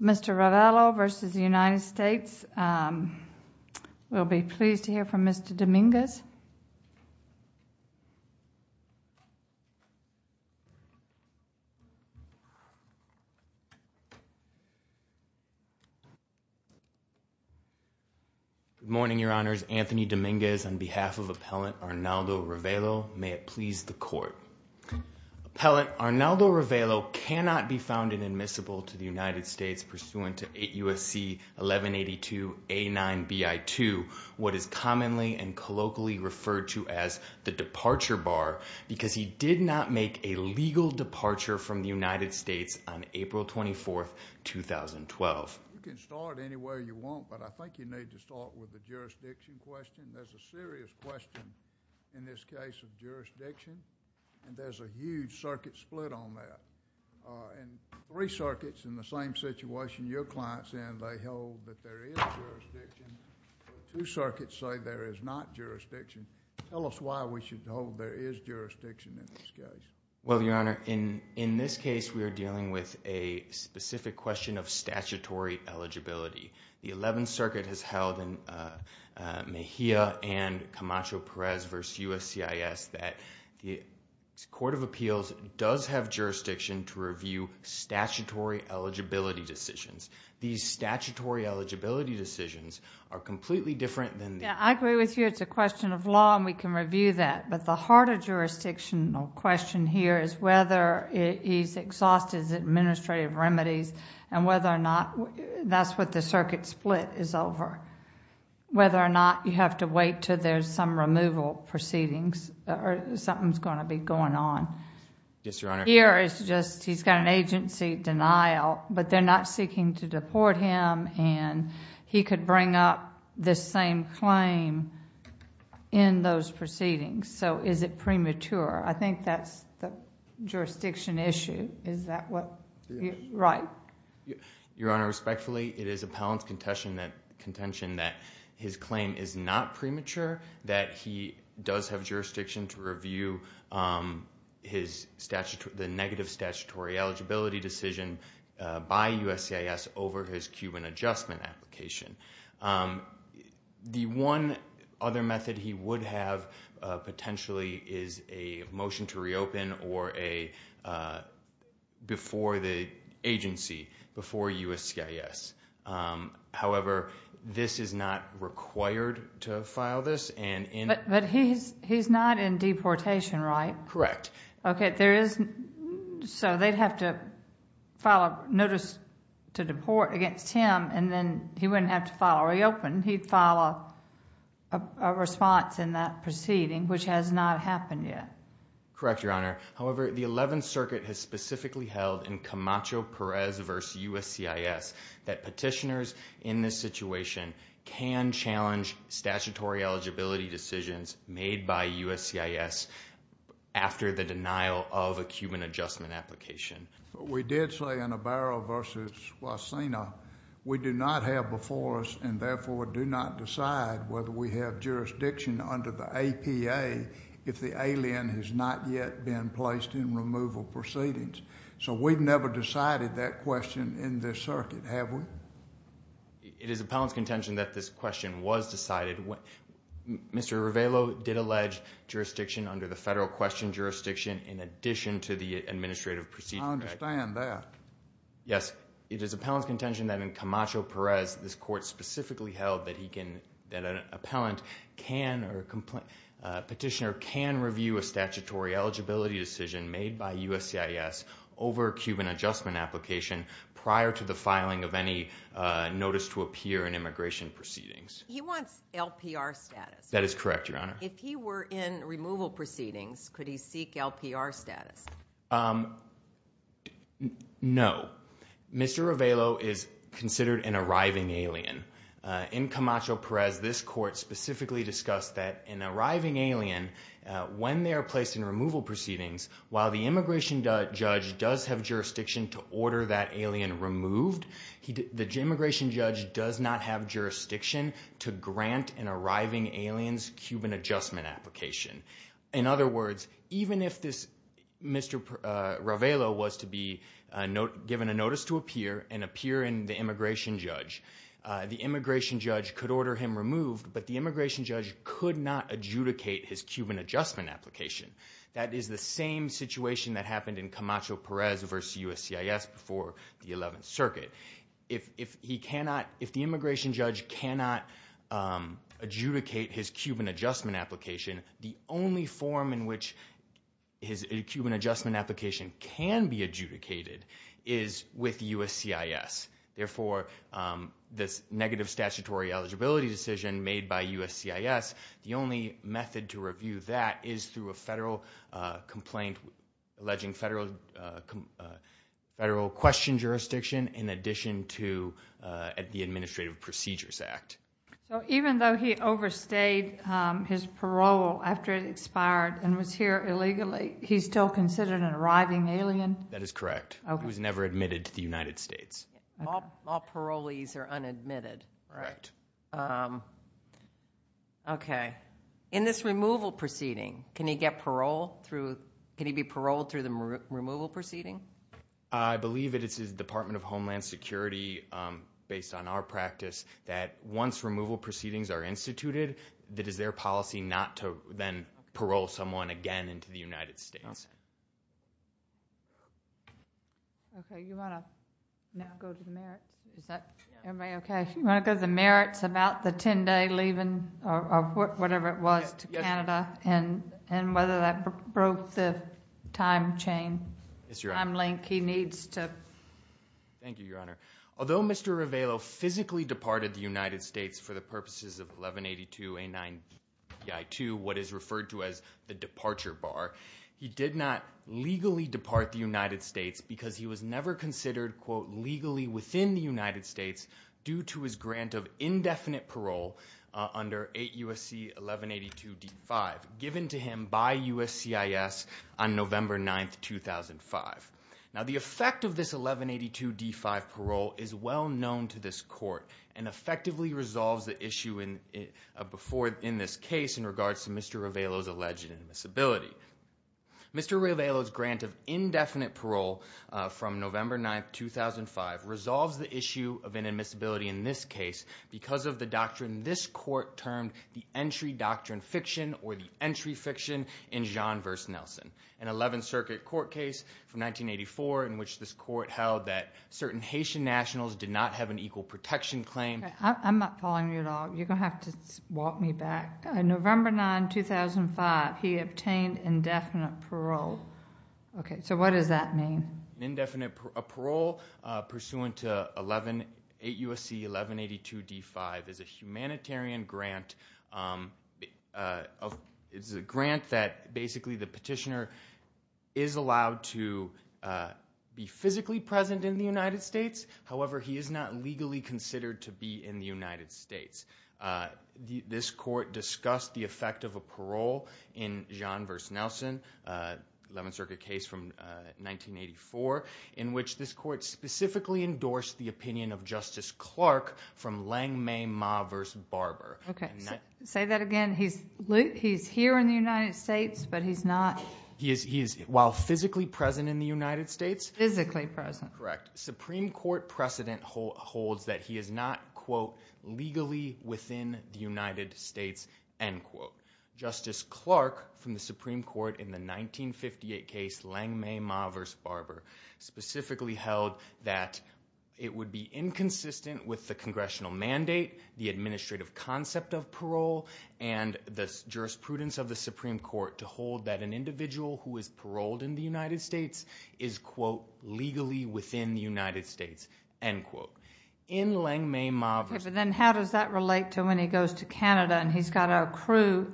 Mr. Ravelo versus the United States. We'll be pleased to hear from Mr. Dominguez. Good morning, Your Honors. Anthony Dominguez on behalf of Appellant Arnaldo Ravelo. May it please the Court. Appellant Arnaldo Ravelo cannot be in the United States pursuant to 8 U.S.C. 1182 A-9 B-I-2, what is commonly and colloquially referred to as the departure bar, because he did not make a legal departure from the United States on April 24, 2012. You can start any way you want, but I think you need to start with the jurisdiction question. There's a serious question in this case of your clients and they hold that there is jurisdiction. Two circuits say there is not jurisdiction. Tell us why we should hold there is jurisdiction in this case. Well, Your Honor, in this case we are dealing with a specific question of statutory eligibility. The Eleventh Circuit has held in Mejia and Camacho-Perez v. USCIS that the Court of Eligibility decisions, these statutory eligibility decisions are completely different than... Yeah, I agree with you. It's a question of law and we can review that, but the heart of jurisdictional question here is whether he's exhausted his administrative remedies and whether or not that's what the circuit split is over. Whether or not you have to wait till there's some removal proceedings or something's going to be going on. Yes, Your Honor. Here it's just he's got an agency denial, but they're not seeking to deport him and he could bring up this same claim in those proceedings. So is it premature? I think that's the jurisdiction issue. Is that right? Your Honor, respectfully, it is appellant's contention that his claim is not premature, that he does have jurisdiction to review the negative statutory eligibility decision by USCIS over his Cuban Adjustment application. The one other method he would have potentially is a motion to reopen or a... before the agency, before USCIS. However, this is not required to file this and... But he's not in deportation, right? Correct. Okay, there is... So they'd have to file a notice to deport against him and then he wouldn't have to file a reopen. He'd file a response in that proceeding, which has not happened yet. Correct, Your Honor. However, the 11th Circuit has specifically held in Camacho-Perez v. USCIS that petitioners in this situation can challenge statutory eligibility decisions made by USCIS after the denial of a Cuban Adjustment application. We did say in Abaro v. Huacena, we do not have before us and therefore do not decide whether we have jurisdiction under the APA if the alien has not yet been placed in removal proceedings. So we've never decided that question in this circuit, have we? It is appellant's contention that this question was decided. Mr. Rivelo did allege jurisdiction under the Federal Question Jurisdiction in addition to the Administrative Proceedings Act. I understand that. Yes, it is appellant's contention that in Camacho-Perez, this Court specifically held that an appellant can or a petitioner can review a statutory eligibility decision made by USCIS over a Cuban Adjustment application prior to the filing of any notice to appear in immigration proceedings. He wants LPR status. That is correct, Your Honor. If he were in removal proceedings, could he seek LPR status? No. Mr. Rivelo is considered an arriving alien. In Camacho-Perez, this Court specifically discussed that an arriving alien, when they are placed in removal proceedings, while the immigration judge does have jurisdiction to order that alien removed, the immigration judge does not have jurisdiction to grant an arriving alien's Cuban Adjustment application. In other words, even if Mr. Rivelo was to be given a notice to appear and appear in the immigration judge, the immigration judge could order him removed, but the immigration judge could not adjudicate his Cuban Adjustment application. That is the same situation that happened in Camacho-Perez versus USCIS before the 11th Circuit. If the immigration judge cannot adjudicate his Cuban Adjustment application, the only form in which his Cuban Adjustment application can be adjudicated is with USCIS. Therefore, this negative statutory eligibility decision made by USCIS, the only method to review that is through a federal complaint alleging federal question jurisdiction in addition to at the Administrative Procedures Act. So even though he overstayed his parole after it expired and was here illegally, he's still considered an arriving alien? That is correct. He was never admitted to the United States. All parolees are unadmitted. Right. Okay. In this removal proceeding, can he be paroled through the removal proceeding? I believe it is the Department of Homeland Security, based on our practice, that once removal proceedings are instituted, it is their policy not to then parole someone again into the United States. Although Mr. Rivelo physically departed the United States for the purposes of 1182A9EI2, what is referred to as the departure bar, he did not legally depart the United States because he was never considered, quote, legally within the United States due to his grant of indefinite parole under 8 U.S.C. 1182D5, given to him by USCIS on November 9th, 2005. Now, the effect of this 1182D5 parole is well known to this court and effectively resolves the issue before in this case in regards to Mr. Rivelo's alleged admissibility. Mr. Rivelo's grant of indefinite parole from November 9th, 2005 resolves the issue of an admissibility in this case because of the doctrine this court termed the entry doctrine fiction or the entry fiction in Jeanne v. Nelson, an 11th Circuit court case from 1984 in which this court held that certain Haitian nationals did not have an equal protection claim. I'm not following you at all. You're going to have to walk me back. November 9, 2005, he obtained indefinite parole. Okay. So what does that mean? An indefinite parole pursuant to 8 U.S.C. 1182D5 is a humanitarian grant. It's a grant that basically the petitioner is allowed to be physically present in the United States. This court discussed the effect of a parole in Jeanne v. Nelson, 11th Circuit case from 1984, in which this court specifically endorsed the opinion of Justice Clark from Lang May Ma v. Barber. Okay. Say that again. He's here in the United States, but he's not... He is while physically present in the United States. Physically present. Supreme Court precedent holds that he is not, quote, legally within the United States, end quote. Justice Clark from the Supreme Court in the 1958 case Lang May Ma v. Barber specifically held that it would be inconsistent with the congressional mandate, the administrative concept of parole, and the jurisprudence of the Supreme Court to hold that individual who is paroled in the United States is, quote, legally within the United States, end quote. In Lang May Ma v. Barber... But then how does that relate to when he goes to Canada and he's got to accrue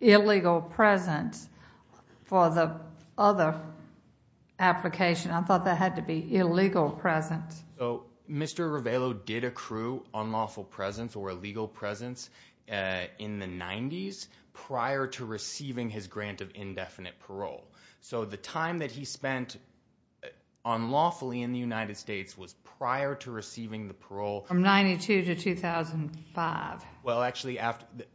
illegal presence for the other application? I thought that had to be illegal presence. So Mr. Ravello did accrue unlawful presence or illegal presence in the 90s prior to receiving his grant of indefinite parole. So the time that he spent unlawfully in the United States was prior to receiving the parole... From 92 to 2005. Well, actually,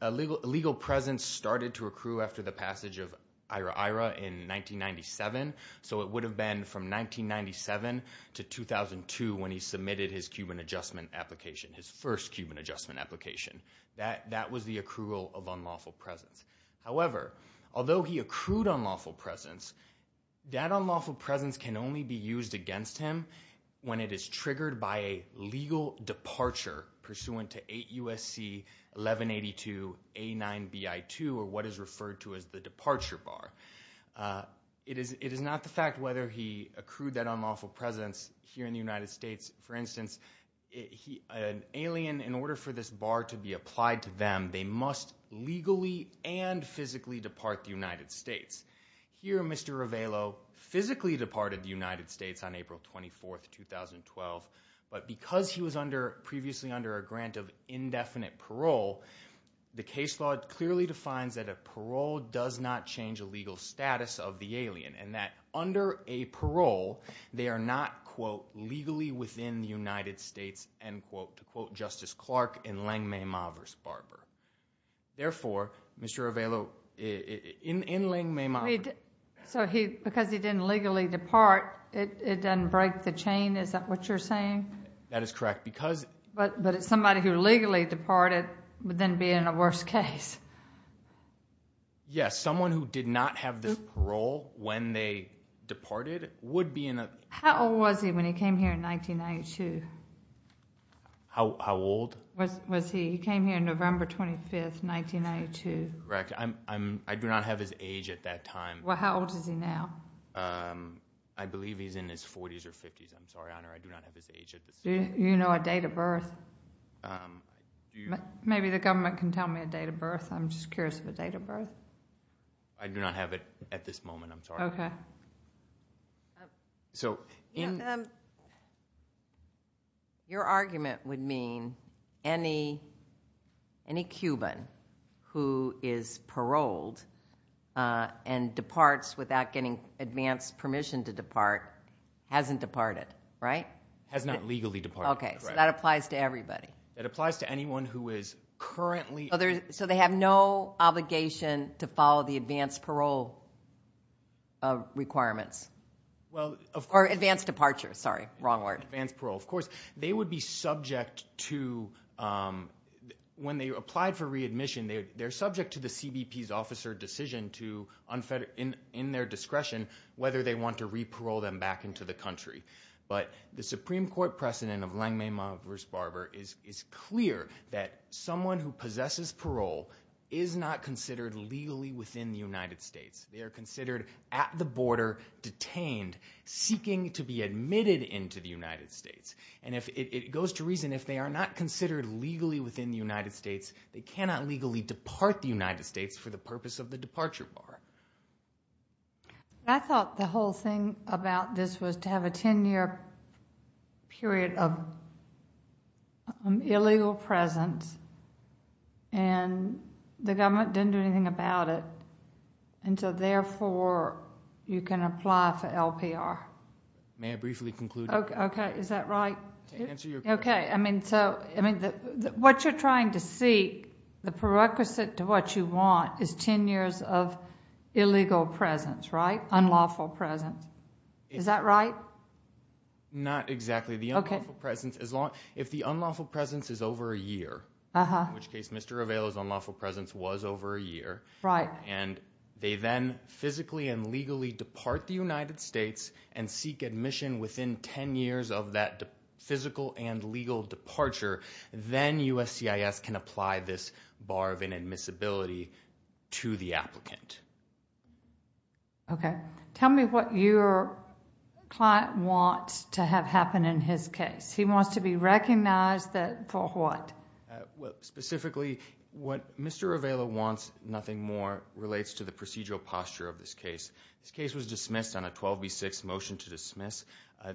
illegal presence started to accrue after the passage of IRA-IRA in 1997. So it would have been from 1997 to 2002 when he submitted his Cuban Adjustment application, his first Cuban Adjustment application. That was the accrual of unlawful presence. However, although he accrued unlawful presence, that unlawful presence can only be used against him when it is triggered by a legal departure pursuant to 8 U.S.C. 1182 A9BI2, or what is referred to as the departure bar. It is not the fact whether he accrued that unlawful presence here in the United States. For instance, an alien, in order for this bar to be applied to them, they must legally and physically depart the United States. Here Mr. Ravello physically departed the United States on April 24, 2012. But because he was previously under a grant of indefinite parole, the case law clearly defines that a parole does not change a legal status of the alien. And that under a parole, they are not, quote, legally within the United States, end quote, to quote Justice Clark in Lange-Mae Mavers Barber. Therefore, Mr. Ravello in Lange-Mae Mavers. So because he didn't legally depart, it doesn't break the chain? Is that what you're saying? That is correct. But somebody who legally departed would then be in a worse case. Yes. Someone who did not have this parole when they departed would be in a- How old was he when he came here in 1992? How old? Was he, he came here November 25, 1992. Correct. I do not have his age at that time. Well, how old is he now? I believe he's in his 40s or 50s. I'm sorry, Honor. I do not have his age at this time. Do you know a date of birth? Maybe the government can tell me a date of birth. I'm just curious of a date of birth. I do not have it at this moment. I'm sorry. Okay. Your argument would mean any Cuban who is paroled and departs without getting advanced permission to depart hasn't departed, right? Has not legally departed. Okay. So that applies to everybody. It applies to anyone who is currently- So they have no obligation to follow the advanced parole requirements? Well, of course- Or advanced departure. Sorry. Wrong word. Advanced parole. Of course, they would be subject to, when they applied for readmission, they're subject to the CBP's officer decision to, in their discretion, whether they want to or not, is clear that someone who possesses parole is not considered legally within the United States. They are considered at the border, detained, seeking to be admitted into the United States. And it goes to reason, if they are not considered legally within the United States, they cannot legally depart the United States for the purpose of the departure bar. I thought the whole thing about this was to have a 10-year period of illegal presence, and the government didn't do anything about it. And so, therefore, you can apply for LPR. May I briefly conclude? Okay. Is that right? To answer your question. Okay. I mean, so, I mean, what you're trying to seek, the prerequisite to what you want, is 10 years of illegal presence, right? Unlawful presence. Is that right? Not exactly. The unlawful presence, if the unlawful presence is over a year, in which case, Mr. Revello's unlawful presence was over a year. Right. And they then physically and legally depart the United States and seek admission within 10 years of that physical and legal departure, then USCIS can apply this bar of inadmissibility to the applicant. Okay. Tell me what your client wants to have happen in his case. He wants to be recognized for what? Well, specifically, what Mr. Revello wants, nothing more, relates to the procedural posture of this case. This case was dismissed on a 12B6 motion to dismiss.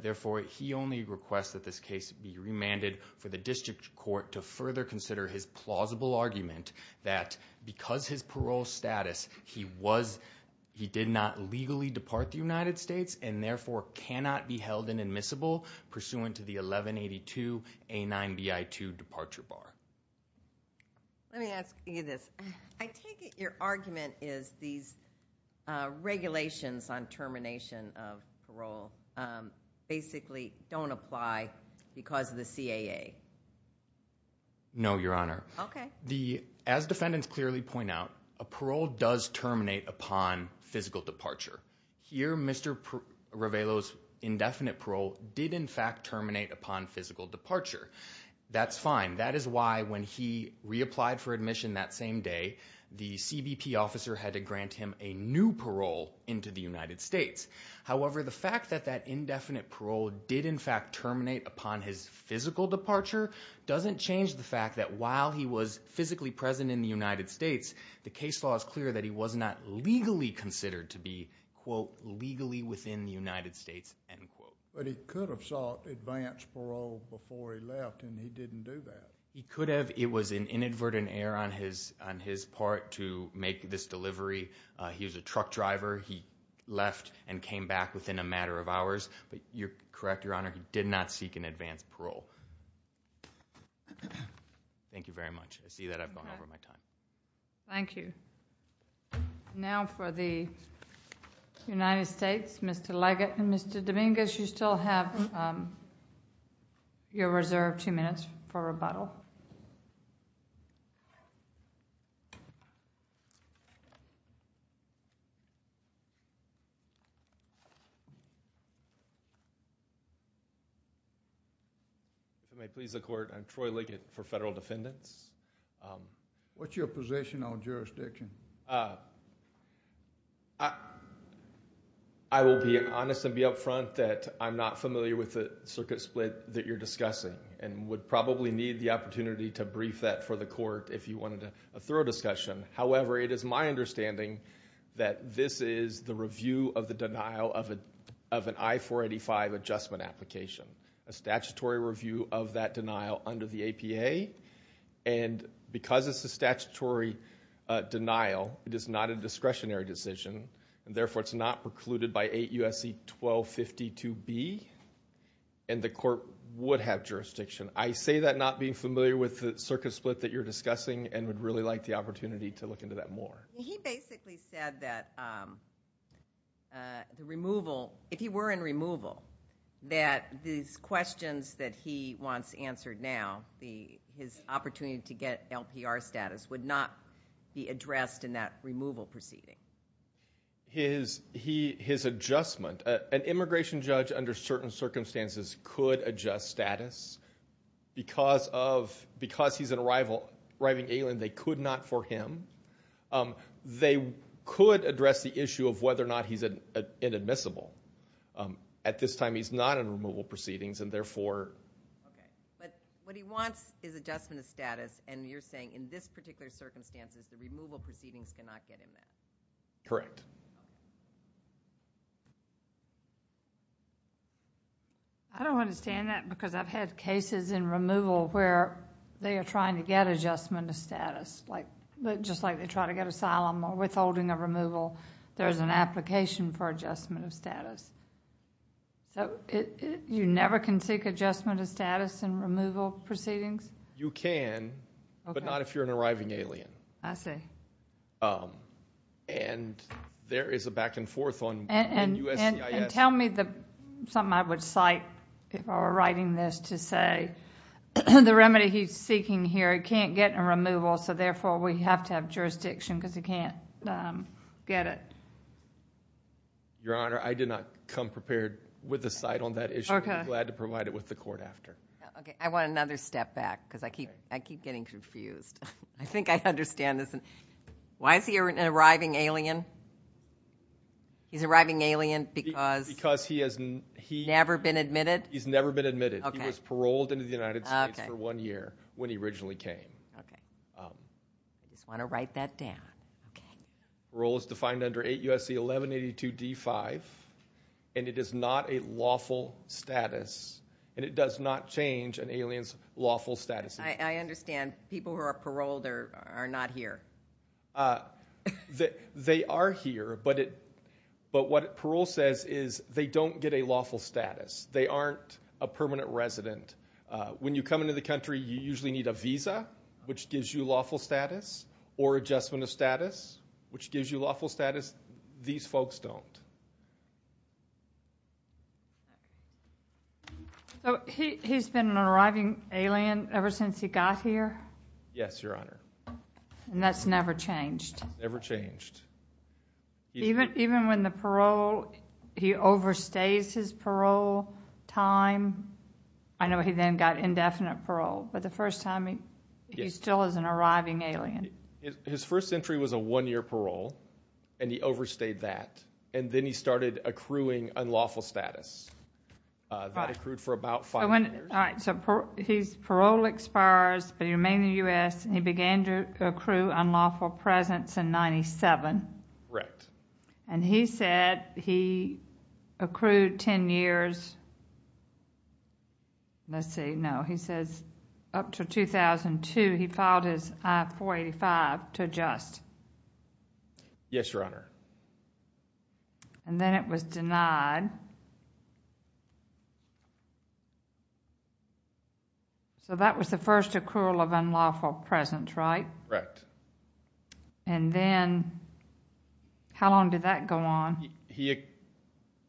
Therefore, he only requests that this case be remanded for the district court to further consider his plausible argument that because his parole status, he did not legally depart the United States and therefore cannot be held inadmissible pursuant to the 1182A9BI2 departure bar. Let me ask you this. I take it your argument is these regulations on termination of parole basically don't apply because of the CAA. No, Your Honor. Okay. As defendants clearly point out, a parole does terminate upon physical departure. Here, Mr. Revello's indefinite parole did in fact terminate upon physical departure. That's fine. That is why when he reapplied for admission that same day, the CBP officer had to grant him a new parole into the United States. However, the fact that that indefinite parole did in fact terminate upon his physical departure doesn't change the fact that while he was physically present in the United States, the case law is clear that he was not legally considered to be, quote, legally within the United States, end quote. But he could have sought advanced parole before he left and he didn't do that. He could have. It was an inadvertent error on his part to make this delivery. He was a truck driver. He left and came back within a matter of hours. But you're correct, Your Honor, he did not seek an advanced parole. Thank you very much. I see that I've gone over my time. Thank you. Now for the United States, Mr. Leggett and Mr. Dominguez, you still have your reserved two minutes for rebuttal. If I may please the Court, I'm Troy Leggett for Federal Defendants. What's your position on jurisdiction? I will be honest and be upfront that I'm not familiar with the opportunity to brief that for the Court if you wanted a thorough discussion. However, it is my understanding that this is the review of the denial of an I-485 adjustment application, a statutory review of that denial under the APA. And because it's a statutory denial, it is not a discretionary decision. And therefore, it's not precluded by 8 U.S.C. 1252B. And the Court would have jurisdiction. I say that not being familiar with the circuit split that you're discussing and would really like the opportunity to look into that more. He basically said that the removal, if he were in removal, that these questions that he wants answered now, the, his opportunity to get LPR status would not be addressed in that removal proceeding. His, he, his adjustment, an immigration judge under certain circumstances could adjust status because of, because he's an arriving alien. They could not for him. They could address the issue of whether or not he's inadmissible. At this time, he's not in removal proceedings and therefore. Okay. But what he wants is adjustment of status. And you're saying in this particular circumstances, the removal proceedings cannot get him that. Correct. I don't understand that because I've had cases in removal where they are trying to get adjustment of status. Like, just like they try to get asylum or withholding of removal. There's an application for adjustment of status. So, you never can seek adjustment of status in removal proceedings? You can, but not if you're an arriving alien. I see. Um, and there is a back and forth on USCIS. Tell me the, something I would cite if I were writing this to say, the remedy he's seeking here, he can't get a removal. So therefore, we have to have jurisdiction because he can't get it. Your Honor, I did not come prepared with a cite on that issue. I'm glad to provide it with the court after. Okay. I want another step back because I keep, I keep getting confused. I think I understand this. Why is he an arriving alien? He's arriving alien because- Because he has, he- Never been admitted? He's never been admitted. Okay. He was paroled into the United States for one year when he originally came. Okay. I just want to write that down. Okay. Parole is defined under 8 U.S.C. 1182 D5, and it is not a lawful status. And it does not change an alien's lawful status. I understand people who are paroled are not here. They are here, but what parole says is they don't get a lawful status. They aren't a permanent resident. When you come into the country, you usually need a visa, which gives you lawful status, or adjustment of status, which gives you lawful status. These folks don't. So, he's been an arriving alien ever since he got here? Yes, Your Honor. And that's never changed? Never changed. Even when the parole, he overstays his parole time? I know he then got indefinite parole, but the first time, he still is an arriving alien. His first entry was a one-year parole, and he overstayed that. And then he started accruing unlawful status. That accrued for about five years. All right, so his parole expires, but he remained in the U.S., and he began to accrue unlawful presence in 97. Correct. And he said he accrued 10 years. Let's see. No, he says up to 2002, he filed his I-485 to adjust. Yes, Your Honor. And then it was denied. So, that was the first accrual of unlawful presence, right? Correct. And then, how long did that go on? He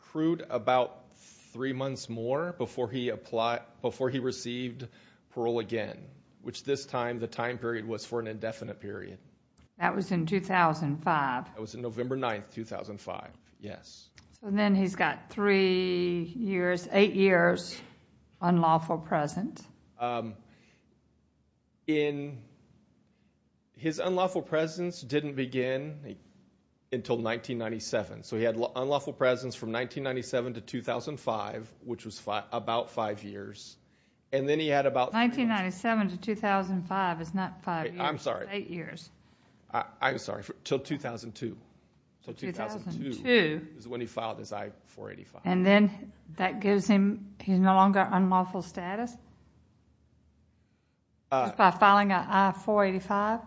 accrued about three months more before he received parole again, which this time, the time period was for an indefinite period. That was in 2005? That was November 9, 2005. Yes. So, then he's got three years, eight years unlawful presence. His unlawful presence didn't begin until 1997. So, he had unlawful presence from 1997 to 2005, which was about five years. And then he had about... 1997 to 2005 is not five years. I'm sorry. It's eight years. I'm sorry. Till 2002. So, 2002 is when he filed his I-485. And then, that gives him... He's no longer unlawful status? By filing an I-485?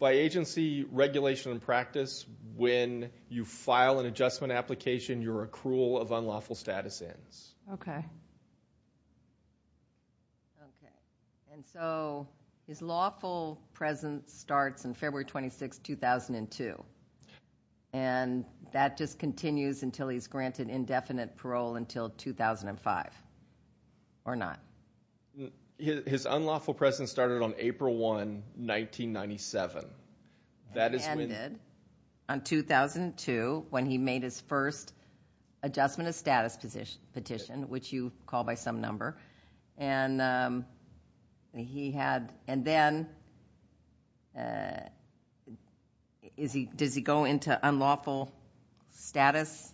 By agency regulation and practice, when you file an adjustment application, your accrual of unlawful status ends. Okay. Okay. And so, his lawful presence starts on February 26, 2002. And that just continues until he's granted indefinite parole until 2005, or not? His unlawful presence started on April 1, 1997. That is when... It ended on 2002, when he made his first adjustment of status petition, which you call by some number. And he had... And then, does he go into unlawful status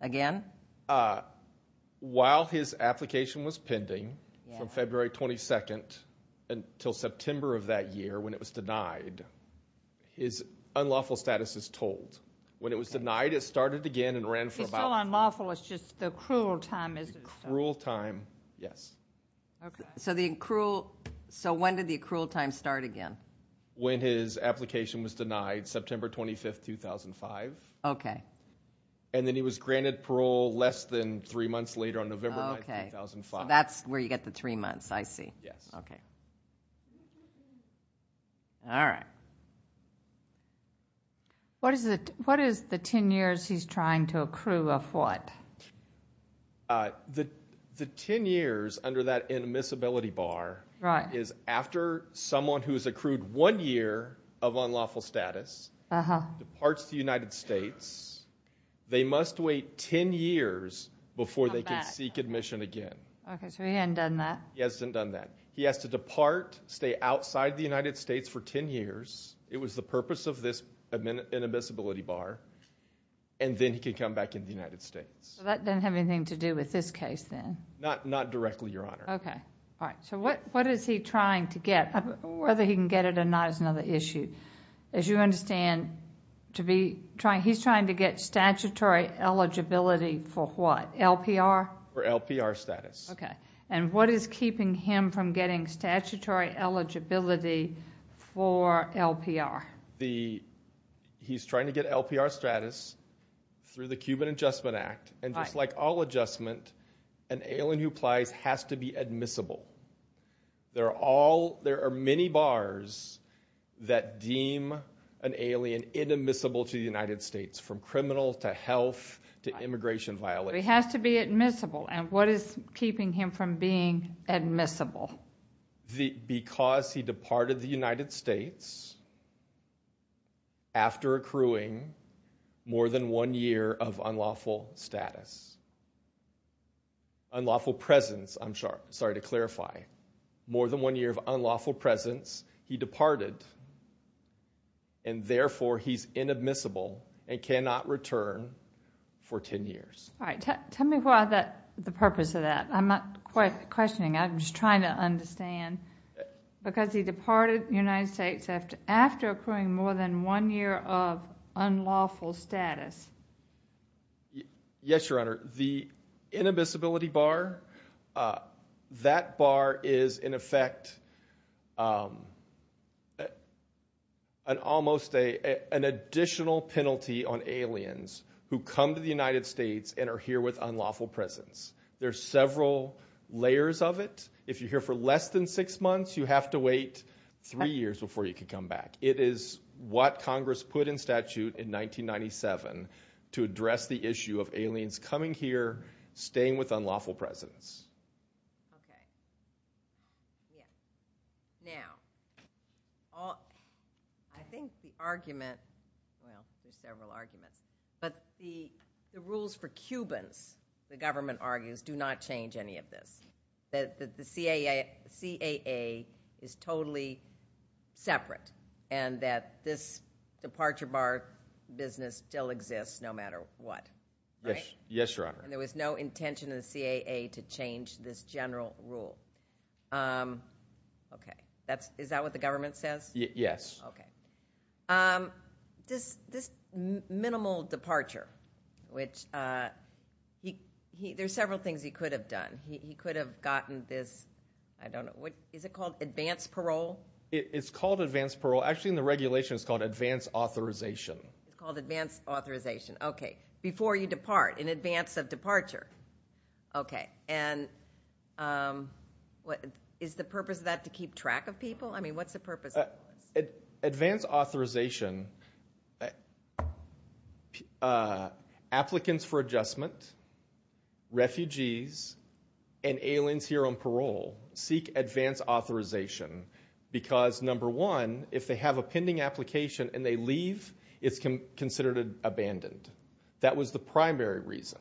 again? While his application was pending from February 22 until September of that year, when it was denied, his unlawful status is told. When it was denied, it started again and ran for about... If he's still unlawful, it's just the cruel time, is it? Cruel time. Yes. Okay. So, the accrual... So, when did the accrual time start again? When his application was denied, September 25, 2005. Okay. And then, he was granted parole less than three months later on November 9, 2005. That's where you get the three months. I see. Yes. Okay. All right. What is the 10 years he's trying to accrue of what? The 10 years under that inadmissibility bar is after someone who's accrued one year of unlawful status departs the United States, they must wait 10 years before they can seek admission again. Okay. So, he hadn't done that? He hasn't done that. He has to depart, stay outside the United States for 10 years. It was the purpose of this inadmissibility bar. And then, he can come back in the United States. That doesn't have anything to do with this case then? Not directly, Your Honor. Okay. All right. So, what is he trying to get? Whether he can get it or not is another issue. As you understand, he's trying to get statutory eligibility for what? LPR? For LPR status. Okay. And what is keeping him from getting statutory eligibility for LPR? He's trying to get LPR status through the Cuban Adjustment Act and just like all adjustment, an alien who applies has to be admissible. There are many bars that deem an alien inadmissible to the United States, from criminal to health to immigration violation. He has to be admissible and what is keeping him from being admissible? Because he departed the United States after accruing more than one year of unlawful status. Unlawful presence, I'm sorry to clarify. More than one year of unlawful presence. He departed and therefore, he's inadmissible and cannot return for 10 years. All right. Tell me why the purpose of that. I'm not questioning. I'm just trying to understand. Because he departed the United States after accruing more than one year of unlawful status. Yes, Your Honor. The inadmissibility bar, that bar is in effect an almost an additional penalty on aliens who come to the United States and are here with unlawful presence. There's several layers of it. If you're here for less than six months, you have to wait three years before you can come back. It is what Congress put in statute in 1997 to address the issue of aliens coming here, staying with unlawful presence. Okay. Yeah. Now, I think the argument, well, there's several arguments, but the rules for Cubans, the government argues, do not change any of this. That the CAA is totally separate and that this departure bar business still exists no matter what, right? Yes, Your Honor. And there was no intention of the CAA to change this general rule. Okay. Is that what the government says? Yes. Okay. This minimal departure, which there's several things he could have done. He could have gotten this, I don't know, what is it called? Advanced parole? It's called advanced parole. Actually, in the regulation, it's called advanced authorization. It's called advanced authorization. Okay. Before you depart, in advance of departure. Okay. And is the purpose of that to keep track of people? I mean, what's the purpose? Advanced authorization, applicants for adjustment, refugees, and aliens here on parole seek advanced authorization because number one, if they have a pending application and they leave, it's considered abandoned. That was the primary reason.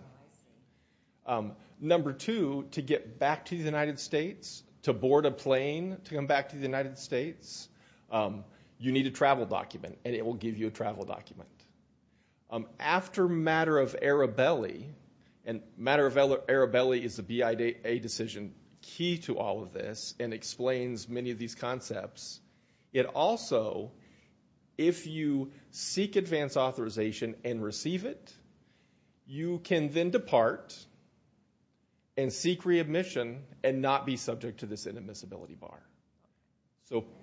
Number two, to get back to the United States, to board a plane to come back to the United States, you need a travel document and it will give you a travel document. After matter of Arabelli, and matter of Arabelli is the BIA decision key to all of this and explains many of these concepts. It also, if you seek advanced authorization and receive it, you can then depart and seek readmission and not be subject to this inadmissibility bar.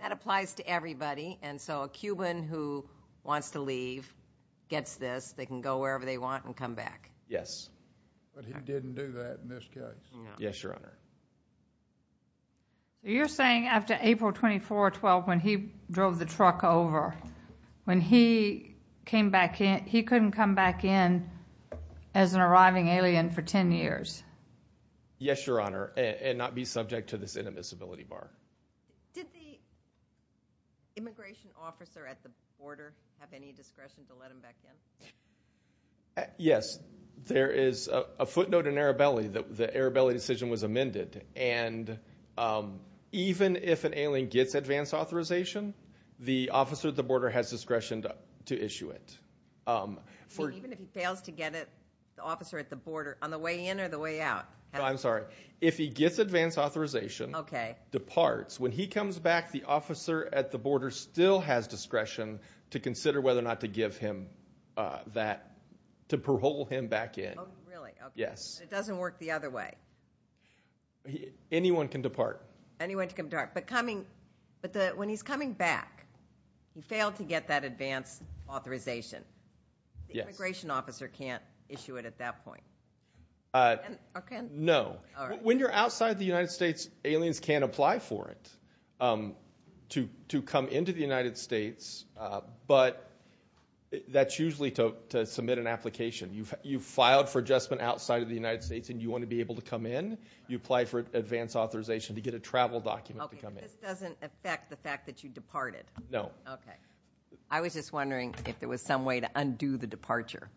That applies to everybody. And so a Cuban who wants to leave gets this. They can go wherever they want and come back. Yes. But he didn't do that in this case. Yes, Your Honor. You're saying after April 24, 12, when he drove the truck over, when he came back in, he couldn't come back in as an arriving alien for 10 years? Yes, Your Honor. And not be subject to this inadmissibility bar. Did the immigration officer at the border have any discretion to let him back in? Yes, there is a footnote in Arabelli that the Arabelli decision was amended. And even if an alien gets advanced authorization, the officer at the border has discretion to issue it. Even if he fails to get it, the officer at the border, on the way in or the way out? I'm sorry. If he gets advanced authorization, departs. When he comes back, the officer at the border still has discretion to consider whether or not to give him that, to parole him back in. Oh, really? Yes. It doesn't work the other way? Anyone can depart. Anyone can depart. But when he's coming back, he failed to get that advanced authorization. The immigration officer can't issue it at that point? No. When you're outside the United States, aliens can't apply for it to come into the United States. But that's usually to submit an application. You've filed for adjustment outside of the United States and you want to be able to come in. You apply for advanced authorization to get a travel document to come in. This doesn't affect the fact that you departed? No. Okay. I was just wondering if there was some way to undo the departure.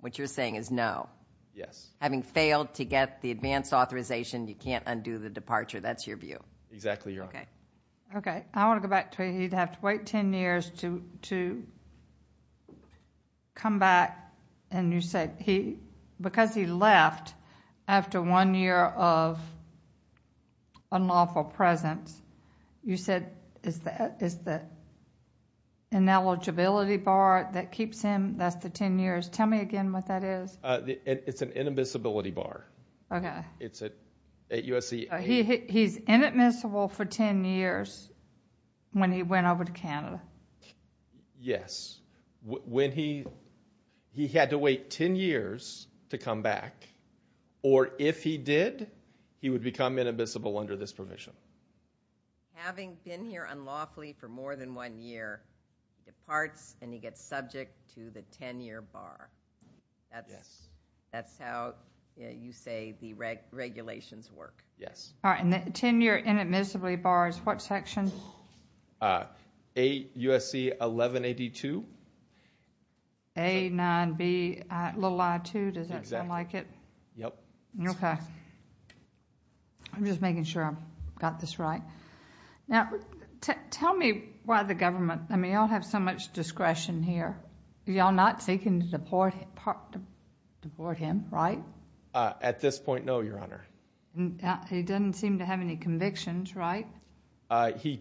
What you're saying is no? Yes. Having failed to get the advanced authorization, you can't undo the departure. That's your view? Exactly. Okay. I want to go back to it. He'd have to wait 10 years to come back and you said because he left after one year of unlawful presence, you said it's the ineligibility bar that keeps him. That's the 10 years. Tell me again what that is. It's an inadmissibility bar. Okay. It's at USC. He's inadmissible for 10 years when he went over to Canada? Yes. When he, he had to wait 10 years to come back or if he did, he would become inadmissible under this provision. Having been here unlawfully for more than one year, he departs and he gets subject to the 10 year bar. That's, that's how you say the regulations work. Yes. All right. And the 10 year inadmissibly bar is what section? A, USC 1182. A, 9B, little I-2. Does that sound like it? Yep. Okay. I'm just making sure I've got this right. Now, tell me why the government, I mean, y'all have so much discretion here. Y'all not seeking to deport him, right? At this point, no, Your Honor. He doesn't seem to have any convictions, right? He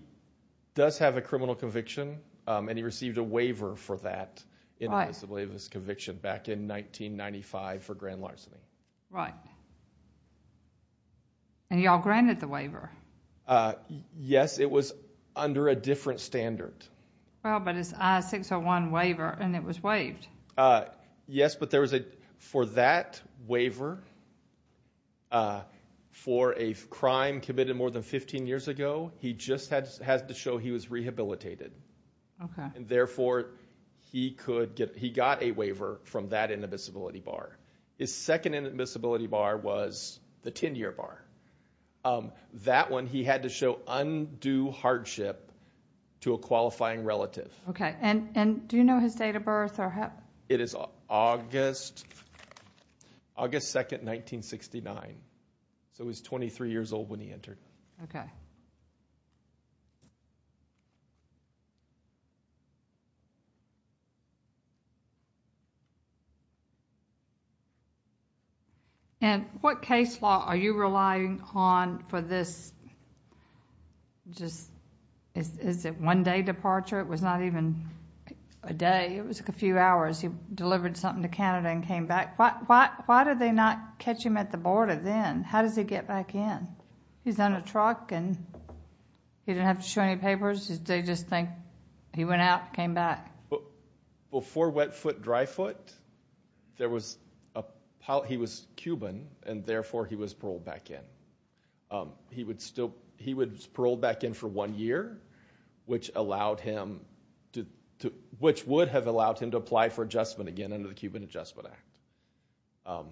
does have a criminal conviction and he received a waiver for that inadmissibility of his conviction back in 1995 for grand larceny. Right. And y'all granted the waiver? Yes, it was under a different standard. Well, but it's I-601 waiver and it was waived. Yes, but there was a, for that waiver, for a crime committed more than 15 years ago, he just had to show he was rehabilitated. Okay. And therefore, he could get, he got a waiver from that inadmissibility bar. His second inadmissibility bar was the 10 year bar. Um, that one, he had to show undue hardship to a qualifying relative. Okay. And, and do you know his date of birth or how? It is August, August 2nd, 1969. So he was 23 years old when he entered. Okay. And what case law are you relying on for this, just, is it one day departure? It was not even a day. It was a few hours. He delivered something to Canada and came back. Why, why, why did they not catch him at the border then? How does he get back in? He's on a truck and he didn't have to show any papers. They just think he went out, came back. Before wet foot, dry foot, there was a, he was Cuban and therefore he was paroled back in. He would still, he was paroled back in for one year, which allowed him to, which would have allowed him to apply for adjustment again under the Cuban Adjustment Act.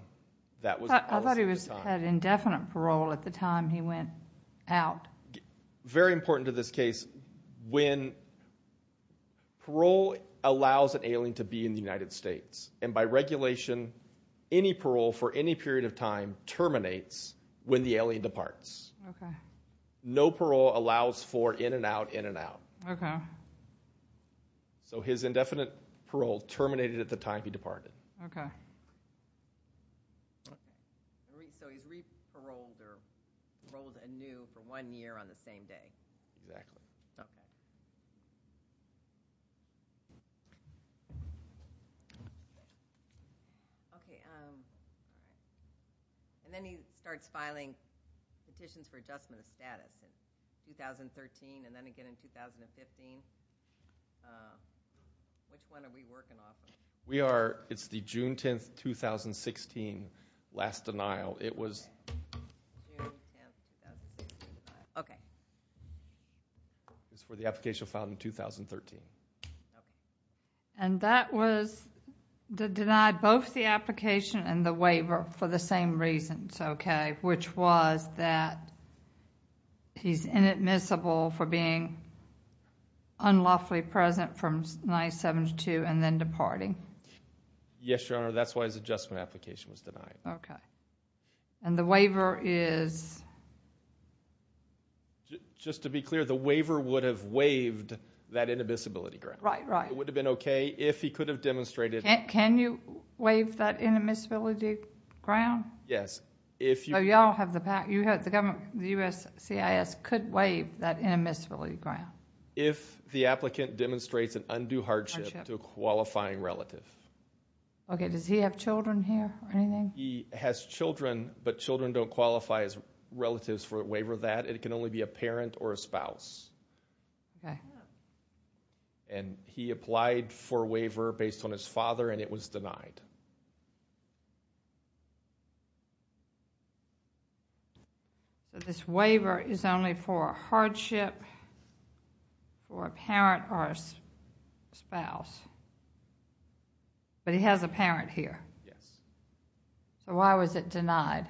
That was the policy at the time. He went out. Very important to this case, when parole allows an alien to be in the United States and by regulation, any parole for any period of time terminates when the alien departs. Okay. No parole allows for in and out, in and out. Okay. So his indefinite parole terminated at the time he departed. Okay. So he's re-paroled or paroled anew for one year on the same day. Exactly. Okay. Okay. And then he starts filing petitions for adjustment of status in 2013 and then again in 2015. Which one are we working off of? We are, it's the June 10th, 2016 last denial. It was for the application filed in 2013. And that was denied both the application and the waiver for the same reasons. Okay. Which was that he's inadmissible for being unlawfully present from 1972 and then departing. Yes, Your Honor. That's why his adjustment application was denied. Okay. And the waiver is? Just to be clear, the waiver would have waived that inadmissibility ground. Right, right. It would have been okay if he could have demonstrated. Can you waive that inadmissibility ground? Yes. So y'all have the power, you have the government, the USCIS could waive that inadmissibility ground. If the applicant demonstrates an undue hardship to a qualifying relative. Okay, does he have children here or anything? He has children, but children don't qualify as relatives for a waiver of that. It can only be a parent or a spouse. Okay. And he applied for a waiver based on his father and it was denied. So this waiver is only for a hardship for a parent or a spouse. But he has a parent here. Yes. So why was it denied?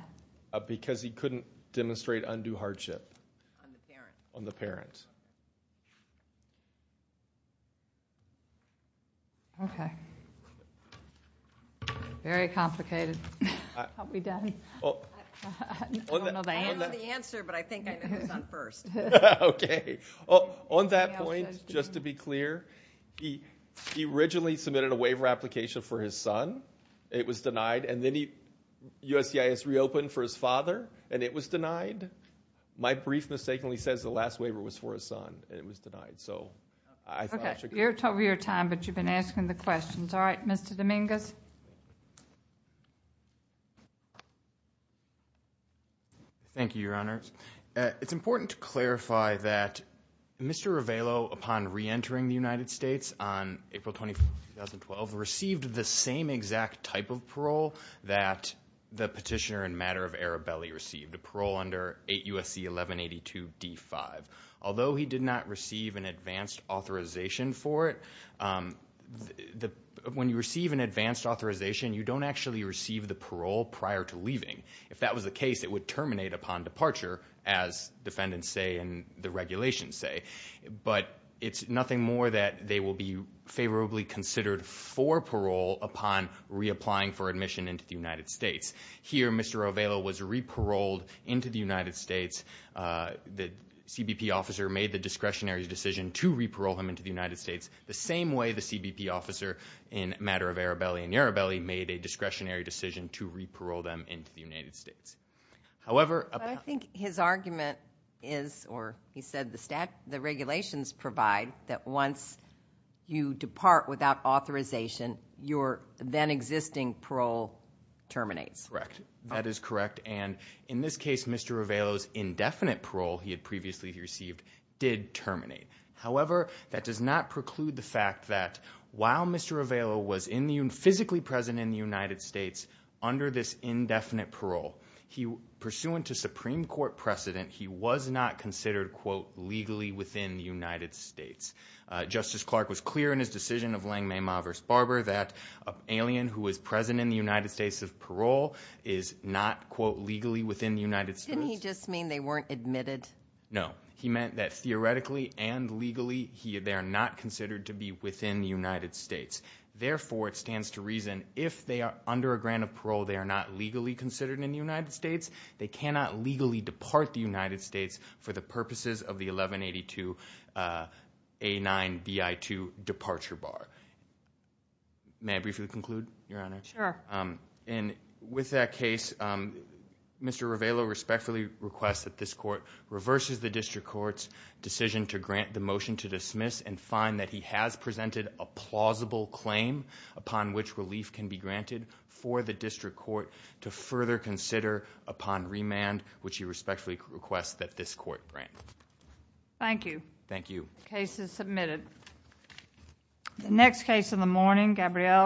Because he couldn't demonstrate undue hardship. On the parent. On the parent. Okay. Very complicated. Are we done? I don't know the answer, but I think I know his son first. Okay. On that point, just to be clear, he originally submitted a waiver application for his son. It was denied. And then USCIS reopened for his father and it was denied. My brief mistakenly says the last waiver was for his son and it was denied. So I thought I should... You're over your time, but you've been asking the questions. All right, Mr. Dominguez. Okay. Thank you, Your Honors. It's important to clarify that Mr. Ravello, upon reentering the United States on April 24, 2012, received the same exact type of parole that the petitioner in matter of Arabelli received, a parole under 8 U.S.C. 1182 D-5. Although he did not receive an advanced authorization for it, the... When you receive an advanced authorization, you don't actually receive the parole prior to leaving. If that was the case, it would terminate upon departure, as defendants say and the regulations say. But it's nothing more that they will be favorably considered for parole upon reapplying for admission into the United States. Here, Mr. Ravello was reparoled into the United States. The CBP officer made the discretionary decision to reparole him into the United States the same way the CBP officer in matter of Arabelli and Yarabelli made a discretionary decision to reparole them into the United States. However... But I think his argument is, or he said the regulations provide, that once you depart without authorization, your then existing parole terminates. Correct. That is correct. And in this case, Mr. Ravello's indefinite parole he had previously received did terminate. However, that does not preclude the fact that, while Mr. Ravello was physically present in the United States under this indefinite parole, pursuant to Supreme Court precedent, he was not considered, quote, legally within the United States. Justice Clark was clear in his decision of Langmey, Ma versus Barber, that an alien who was present in the United States of parole is not, quote, legally within the United States. Didn't he just mean they weren't admitted? No. He meant that, theoretically and legally, they are not considered to be within the United States. Therefore, it stands to reason, if they are under a grant of parole, they are not legally considered in the United States. They cannot legally depart the United States for the purposes of the 1182A9BI2 departure bar. May I briefly conclude, Your Honor? Sure. And with that case, Mr. Ravello respectfully requests that this court reverses the district court's decision to grant the motion to dismiss and find that he has presented a plausible claim upon which relief can be granted for the district court to further consider upon remand, which he respectfully requests that this court grant. Thank you. Thank you. Case is submitted. The next case in the morning, Gabrielle.